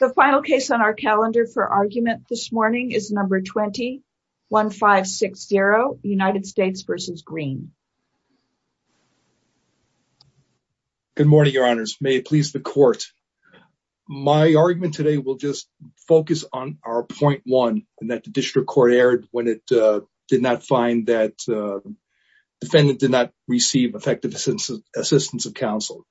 The final case on our calendar for argument this morning is No. 20-1560, United States v. Greene. Good morning, Your Honors. May it please the Court. My argument today will just focus on our point one, in that the District Court erred when it did not find that the defendant did not receive effective assistance of counsel.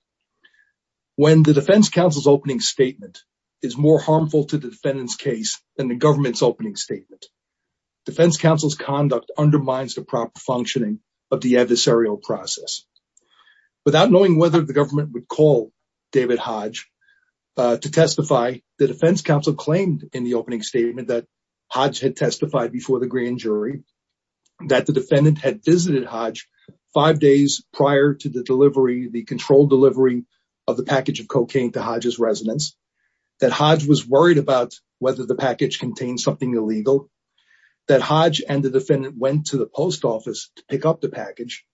When the defense counsel's opening statement is more harmful to the defendant's case than the government's opening statement, defense counsel's conduct undermines the proper functioning of the adversarial process. Without knowing whether the government would call David Hodge to testify, the defense counsel claimed in the opening statement that Hodge had testified before the grand jury, that the defendant had visited Hodge five days prior to the controlled delivery of the package of cocaine to Hodge's residence, that Hodge was worried about whether the package contained something illegal, that Hodge and the defendant went to the post office to pick up the package,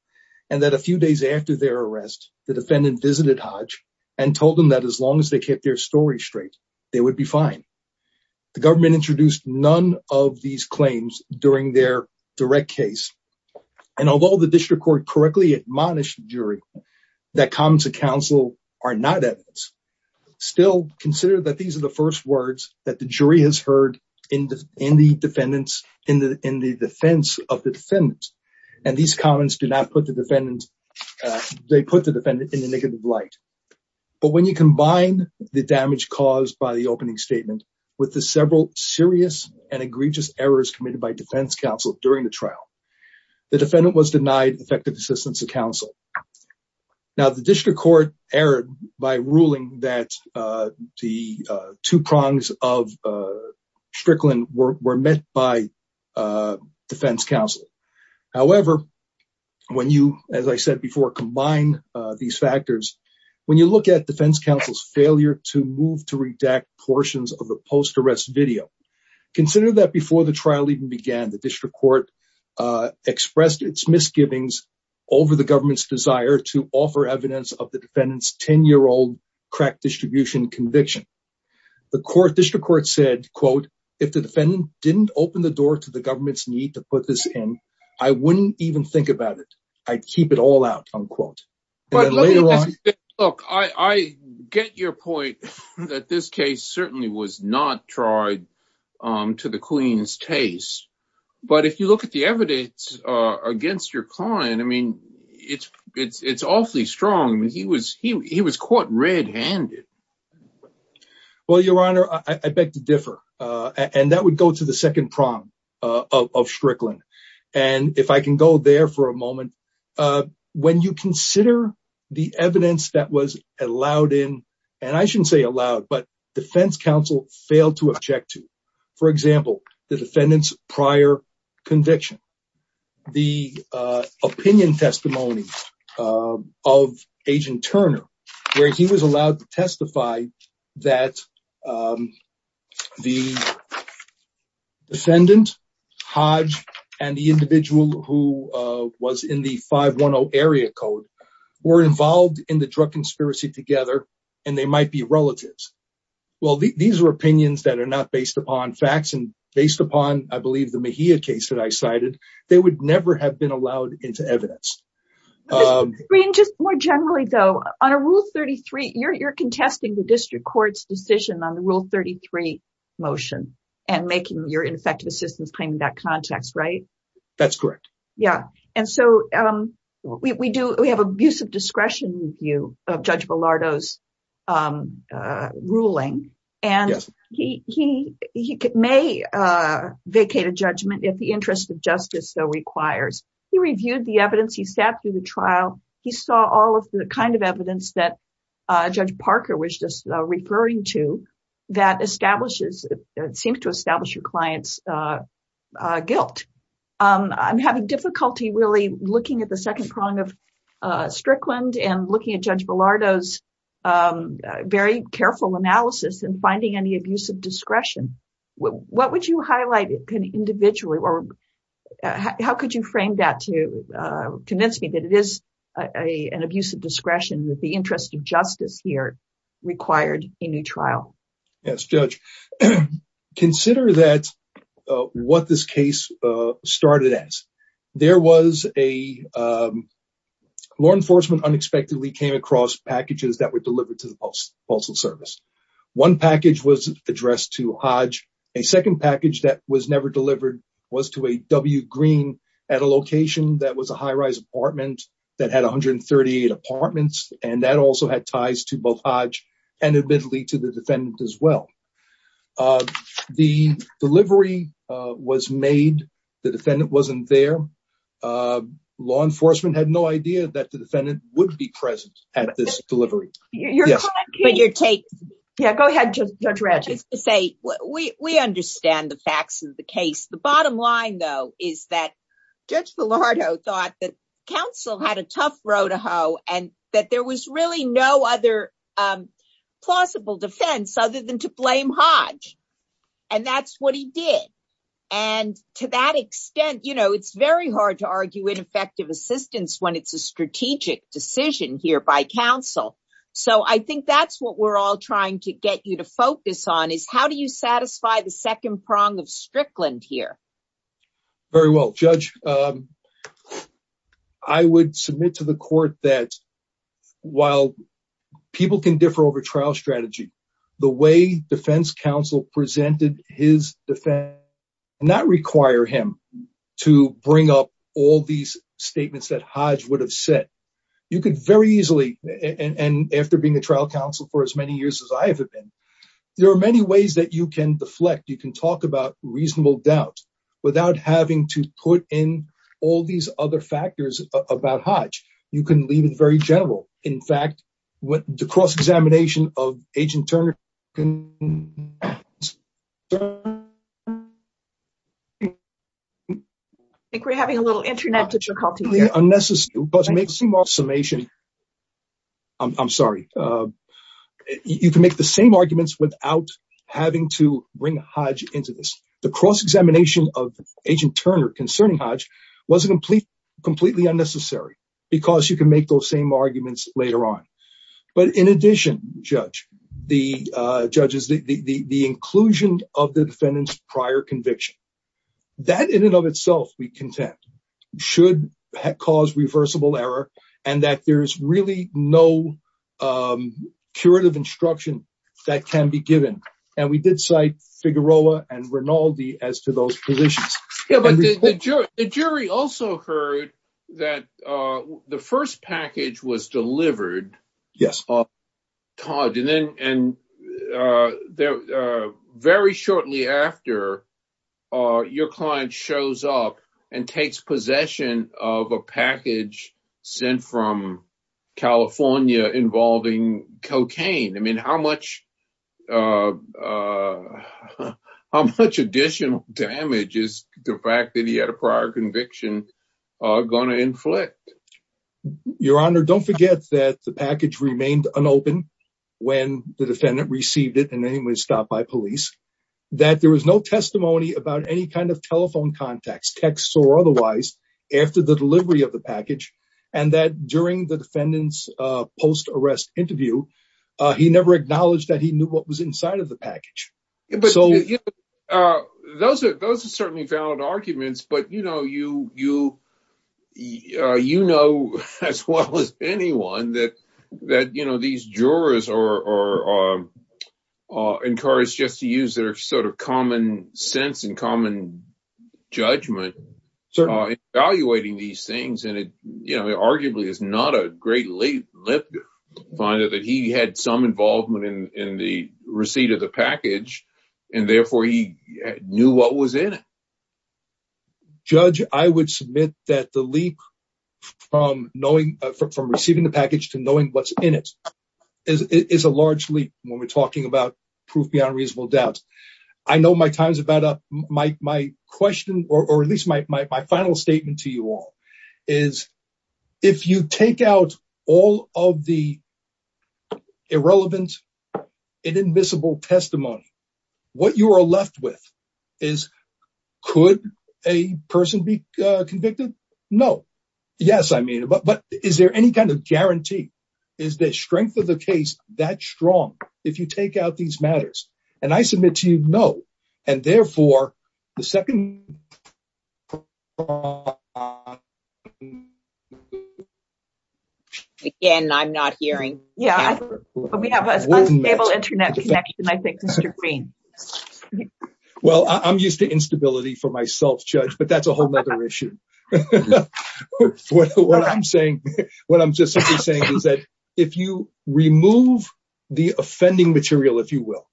and that a few days after their arrest, the defendant visited Hodge and told him that as long as they kept their story straight, they would be fine. The government introduced none of these claims during their direct case, and although the District Court correctly admonished the jury that comments of counsel are not evidence, still consider that these are the first words that the jury has heard in the defense of the defendant, and these comments do not put the defendant in a negative light. But when you combine the damage caused by the opening statement with the several serious and egregious errors committed by defense counsel during the trial, the defendant was denied effective assistance of counsel. Now the District Court erred by ruling that the two prongs of Strickland were met by defense counsel. However, when you, as I said before, combine these factors, when you look at defense counsel's failure to move to redact portions of the post arrest video, consider that before the trial even began, the District Court expressed its misgivings over the government's desire to offer evidence of the defendant's 10-year-old crack distribution conviction. The District Court said, quote, if the defendant didn't open the door to the government's need to put this in, I wouldn't even think about it. I'd keep it all out, unquote. But look, I get your point that this case certainly was not tried to the queen's taste. But if you look at the evidence against your client, I mean, it's awfully strong. He was caught red handed. Well, Your Honor, I beg to differ. And that would go to the second prong of Strickland. And if I can go there for a moment, when you consider the evidence that was allowed in, and I shouldn't say allowed, but defense counsel failed to object to, for example, the defendant's prior conviction. The opinion testimony of Agent Turner, where he was allowed to testify that the defendant, Hodge, and the individual who was in the 510 area code were involved in the drug conspiracy together, and they might be relatives. Well, these are opinions that are not based upon facts and based upon, I believe, the Mejia case that I cited, they would never have been allowed into evidence. Just more generally, though, on a Rule 33, you're contesting the District Court's decision on the Rule 33 motion and making your ineffective assistance claim in that context, right? That's correct. Yeah. And so we do, we have abusive discretion with you, of Judge Bilardo's ruling, and he may vacate a judgment if the interest of justice so requires. He reviewed the evidence, he sat through the trial, he saw all of the kind of evidence that Judge Parker was just referring to, that establishes, seems to establish your client's guilt. I'm having difficulty really looking at the second prong of Strickland and looking at Judge Bilardo's very careful analysis and finding any abusive discretion. What would you highlight individually, or how could you frame that to convince me that it is an abusive discretion with the interest of justice here required in your trial? Yes, Judge. Consider that, what this case started as. There was a, law enforcement unexpectedly came across packages that were delivered to the Postal Service. One package was addressed to Hodge. A second package that was never delivered was to a W. Green at a location that was a high-rise apartment that had 138 apartments, and that also had ties to both Hodge and admittedly to the defendant as well. The delivery was made. The defendant wasn't there. Law enforcement had no idea that the defendant would be present at this delivery. Go ahead, Judge Ratchey. We understand the facts of the case. The bottom line, though, is that Judge Bilardo thought that counsel had a tough row to hoe and that there was really no other plausible defense other than to blame Hodge. And that's what he did. And to that extent, you know, it's very hard to argue ineffective assistance when it's a strategic decision here by counsel. So I think that's what we're all trying to get you to focus on is how do you satisfy the second prong of Strickland here? Very well, Judge. I would submit to the court that while people can differ over trial strategy, the way defense counsel presented his defense did not require him to bring up all these statements that Hodge would have said. You could very easily, and after being a trial counsel for as many years as I have been, there are many ways that you can deflect, you can talk about reasonable doubt without having to put in all these other factors about Hodge. You can leave it very general. In fact, the cross-examination of Agent Turner… I think we're having a little internet difficulty here. I'm sorry. You can make the same arguments without having to bring Hodge into this. The cross-examination of Agent Turner concerning Hodge was completely unnecessary because you can make those same arguments later on. But in addition, Judge, the inclusion of the defendant's prior conviction, that in and of itself we contend should cause reversible error and that there's really no curative instruction that can be given. And we did cite Figueroa and Rinaldi as to those positions. The jury also heard that the first package was delivered. Yes. And very shortly after, your client shows up and takes possession of a package sent from California involving cocaine. I mean, how much additional damage is the fact that he had a prior conviction going to inflict? Your Honor, don't forget that the package remained unopened when the defendant received it and then it was stopped by police, that there was no testimony about any kind of telephone contacts, texts or otherwise, after the delivery of the package, and that during the defendant's post-arrest interview, he never acknowledged that he knew what was inside of the package. Those are certainly valid arguments, but you know as well as anyone that these jurors are encouraged just to use their sort of common sense and common judgment. Certainly. And it, you know, arguably is not a great leap finder that he had some involvement in the receipt of the package and therefore he knew what was in it. As a judge, I would submit that the leap from receiving the package to knowing what's in it is a large leap when we're talking about proof beyond reasonable doubt. I know my time's about up. My question, or at least my final statement to you all is, if you take out all of the irrelevant, inadmissible testimony, what you are left with is, could a person be convicted? No. Yes, I mean, but is there any kind of guarantee? Is the strength of the case that strong if you take out these matters? And I submit to you, no. And therefore, the second... Again, I'm not hearing. Yeah, we have an unstable internet connection, I think, Mr. Green. Well, I'm used to instability for myself, Judge, but that's a whole nother issue. What I'm saying, what I'm just saying is that if you remove the offending material, if you will,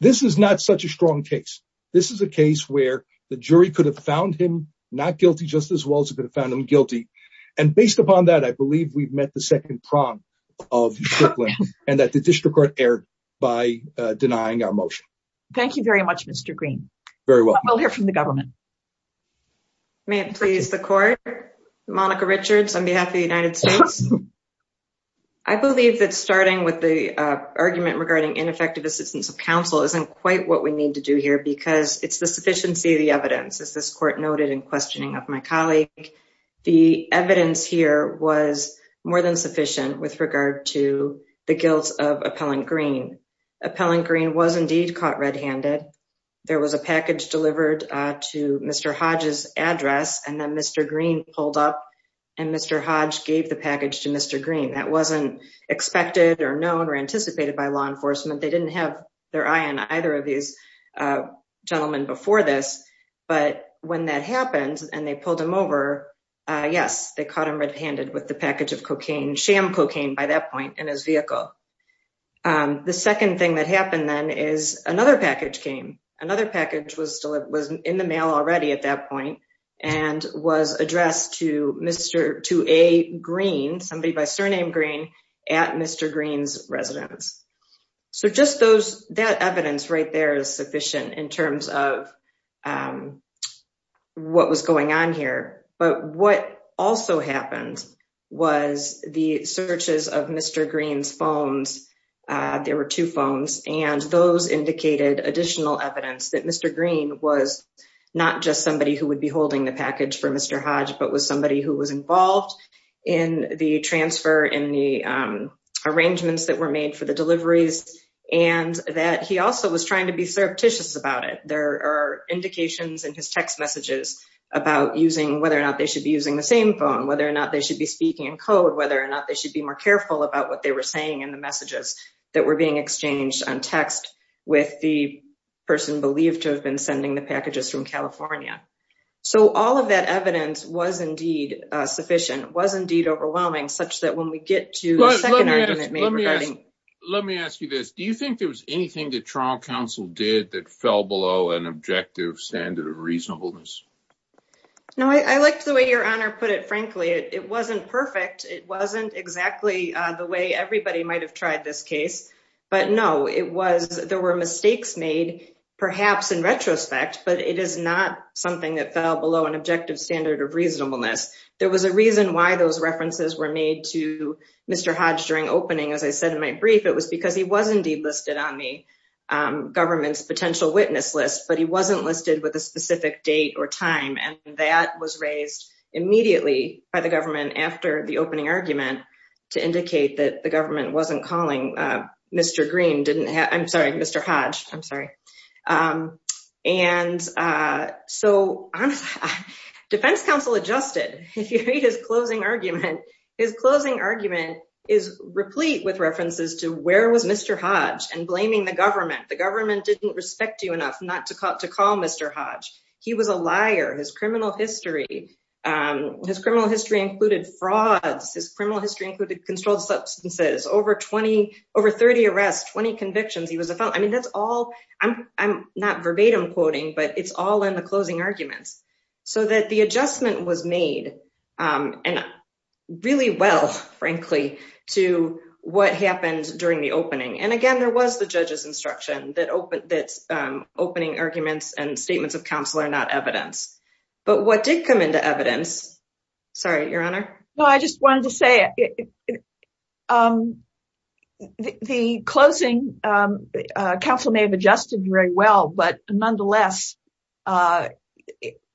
this is not such a strong case. This is a case where the jury could have found him not guilty just as well as it could have found him guilty. And based upon that, I believe we've met the second prong of Shiklin and that the district court erred by denying our motion. Thank you very much, Mr. Green. Very well. We'll hear from the government. May it please the court. Monica Richards on behalf of the United States. I believe that starting with the argument regarding ineffective assistance of counsel isn't quite what we need to do here because it's the sufficiency of the evidence, as this court noted in questioning of my colleague. The evidence here was more than sufficient with regard to the guilt of Appellant Green. Appellant Green was indeed caught red handed. There was a package delivered to Mr. Hodge's address and then Mr. Green pulled up and Mr. Hodge gave the package to Mr. Green. That wasn't expected or known or anticipated by law enforcement. They didn't have their eye on either of these gentlemen before this. But when that happened and they pulled him over, yes, they caught him red handed with the package of cocaine, sham cocaine by that point in his vehicle. The second thing that happened then is another package came. Another package was in the mail already at that point and was addressed to a Green, somebody by surname Green, at Mr. Green's residence. So just that evidence right there is sufficient in terms of what was going on here. But what also happened was the searches of Mr. Green's phones. There were two phones and those indicated additional evidence that Mr. Green was not just somebody who would be holding the package for Mr. Hodge, but was somebody who was involved in the transfer, in the arrangements that were made for the deliveries, and that he also was trying to be surreptitious about it. There are indications in his text messages about whether or not they should be using the same phone, whether or not they should be speaking in code, whether or not they should be more careful about what they were saying in the messages that were being exchanged on text with the person believed to have been sending the packages from California. So all of that evidence was indeed sufficient, was indeed overwhelming, such that when we get to the second argument made regarding... Let me ask you this. Do you think there was anything that trial counsel did that fell below an objective standard of reasonableness? No, I liked the way Your Honor put it. Frankly, it wasn't perfect. It wasn't exactly the way everybody might have tried this case. But no, there were mistakes made, perhaps in retrospect, but it is not something that fell below an objective standard of reasonableness. There was a reason why those references were made to Mr. Hodge during opening. As I said in my brief, it was because he was indeed listed on the government's potential witness list, but he wasn't listed with a specific date or time, and that was raised immediately by the government after the opening argument to indicate that the government wasn't calling Mr. Green... I'm sorry, Mr. Hodge. I'm sorry. And so defense counsel adjusted. If you read his closing argument, his closing argument is replete with references to where was Mr. Hodge and blaming the government. The government didn't respect you enough not to call Mr. Hodge. He was a liar. His criminal history... His criminal history included controlled substances, over 30 arrests, 20 convictions. He was a felon. I mean, that's all... I'm not verbatim quoting, but it's all in the closing arguments. So that the adjustment was made really well, frankly, to what happened during the opening. And again, there was the judge's instruction that opening arguments and statements of counsel are not evidence. But what did come into evidence... Sorry, Your Honor. Well, I just wanted to say, the closing counsel may have adjusted very well, but nonetheless,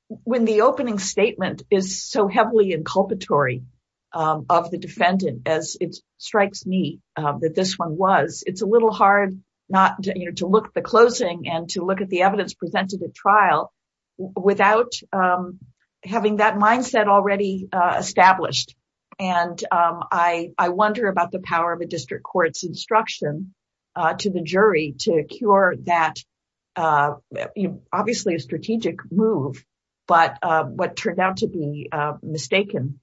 when the opening statement is so heavily inculpatory of the defendant, as it strikes me that this one was, it's a little hard not to look at the closing and to look at the evidence presented at trial without having that mindset already established. And I wonder about the power of a district court's instruction to the jury to cure that, obviously a strategic move, but what turned out to be mistaken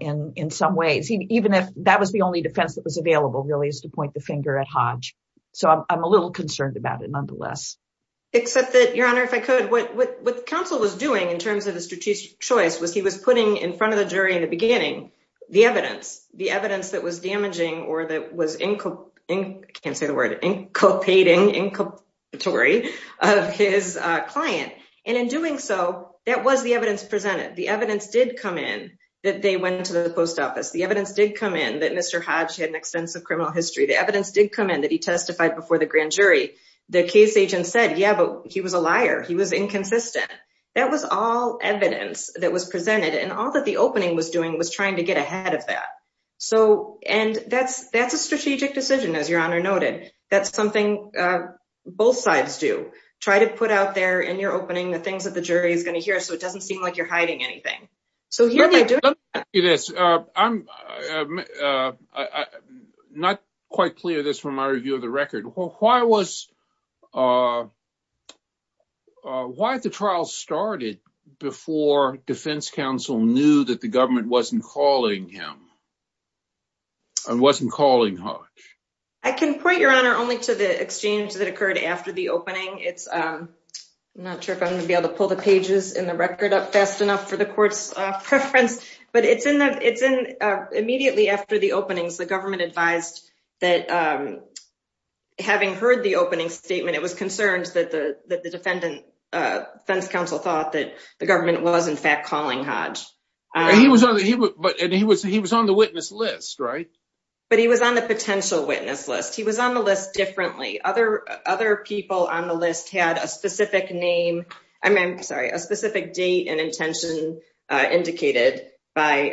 in some ways, even if that was the only defense that was available really is to point the finger at Hodge. Except that, Your Honor, if I could, what counsel was doing in terms of the strategic choice was he was putting in front of the jury in the beginning, the evidence. The evidence that was damaging or that was... I can't say the word, inculpating, inculpatory of his client. And in doing so, that was the evidence presented. The evidence did come in that they went to the post office. The evidence did come in that Mr. Hodge had an extensive criminal history. The evidence did come in that he testified before the grand jury. The case agent said, yeah, but he was a liar. He was inconsistent. That was all evidence that was presented. And all that the opening was doing was trying to get ahead of that. So, and that's a strategic decision, as Your Honor noted. That's something both sides do. Try to put out there in your opening the things that the jury is going to hear so it doesn't seem like you're hiding anything. Let me ask you this. I'm not quite clear of this from my review of the record. Why was... Why the trial started before defense counsel knew that the government wasn't calling him? And wasn't calling Hodge? I can point, Your Honor, only to the exchange that occurred after the opening. I'm not sure if I'm going to be able to pull the pages in the record up fast enough with this preference, but it's in the... Immediately after the openings, the government advised that having heard the opening statement, it was concerned that the defendant, defense counsel thought that the government was in fact calling Hodge. He was on the witness list, right? But he was on the potential witness list. He was on the list differently. Other people on the list had a specific name. I'm sorry, a specific date and intention indicated by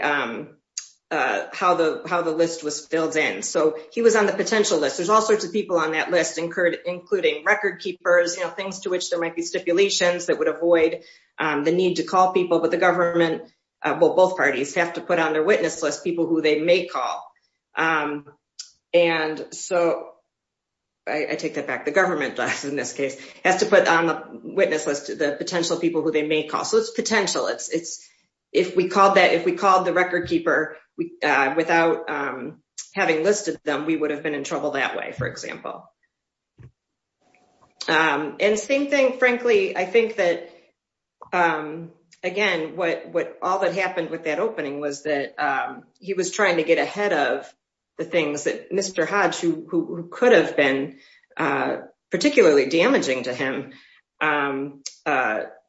how the list was filled in. So he was on the potential list. There's all sorts of people on that list, including record keepers, things to which there might be stipulations that would avoid the need to call people. But the government, well, both parties have to put on their witness list people who they may call. And so I take that back. The government, in this case, has to put on the witness list the potential people who they may call. So it's potential. If we called the record keeper without having listed them, we would have been in trouble that way, for example. And same thing, frankly, I think that, again, all that happened with that opening was that he was trying to get ahead of the things that Mr. Hodge, who could have been particularly damaging to him,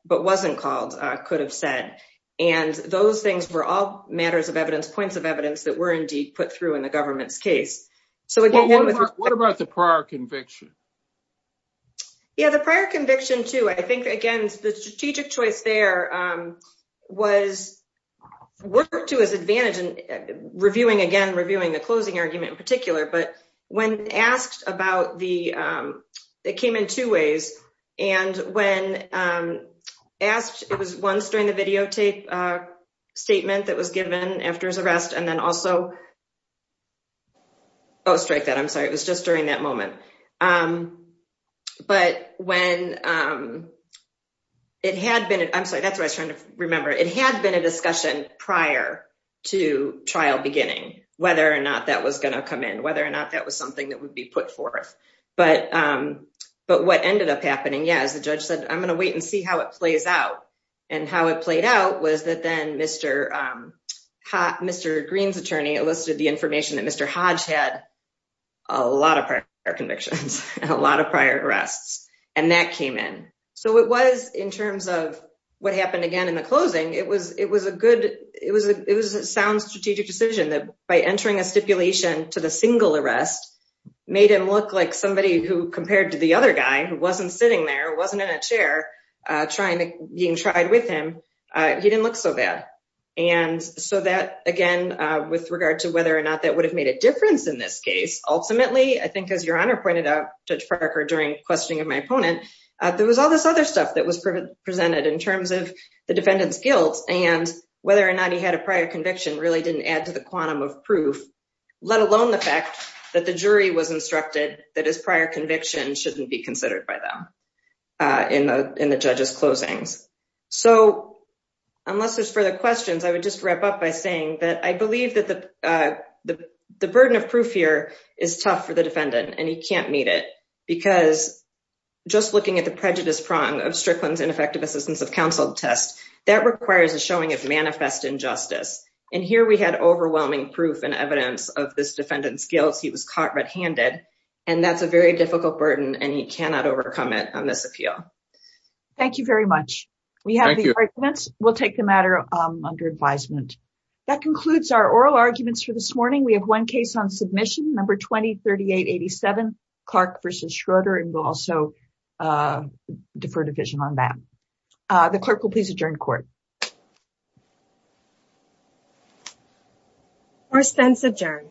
but wasn't called, could have said. And those things were all matters of evidence, points of evidence that were indeed put through in the government's case. What about the prior conviction? Yeah, the prior conviction, too. I think, again, the strategic choice there was worked to his advantage in reviewing, again, reviewing the closing argument in particular. When asked about the, it came in two ways. And when asked, it was once during the videotape statement that was given after his arrest, and then also... Oh, strike that, I'm sorry. It was just during that moment. But when it had been... I'm sorry, that's what I was trying to remember. It had been a discussion prior to trial beginning, whether or not that was going to come in, something that would be put forth. But what ended up happening, yeah, as the judge said, I'm going to wait and see how it plays out. And how it played out was that then Mr. Green's attorney elicited the information that Mr. Hodge had a lot of prior convictions, a lot of prior arrests. And that came in. So it was, in terms of what happened again in the closing, it was a good, it was a sound strategic decision that by entering a stipulation to the single arrest, made him look like somebody who, compared to the other guy, who wasn't sitting there, wasn't in a chair, being tried with him, he didn't look so bad. And so that, again, with regard to whether or not that would have made a difference in this case, ultimately, I think as Your Honor pointed out, Judge Parker, during questioning of my opponent, there was all this other stuff that was presented in terms of the defendant's guilt, and whether or not he had a prior conviction really didn't add to the quantum of proof, let alone the fact that the jury was instructed that his prior conviction shouldn't be considered by them in the judge's closings. So unless there's further questions, I would just wrap up by saying that I believe that the burden of proof here is tough for the defendant, and he can't meet it. Because just looking at the prejudice prong of Strickland's ineffective assistance of counsel test, that requires a showing of manifest injustice. And here we had overwhelming proof and evidence of this defendant's guilt. He was caught red-handed, and that's a very difficult burden, and he cannot overcome it on this appeal. Thank you very much. We have the arguments. We'll take the matter under advisement. That concludes our oral arguments for this morning. We have one case on submission, number 203887, Clark v. Schroeder, and we'll also defer division on that. The clerk will please adjourn court. Court stands adjourned.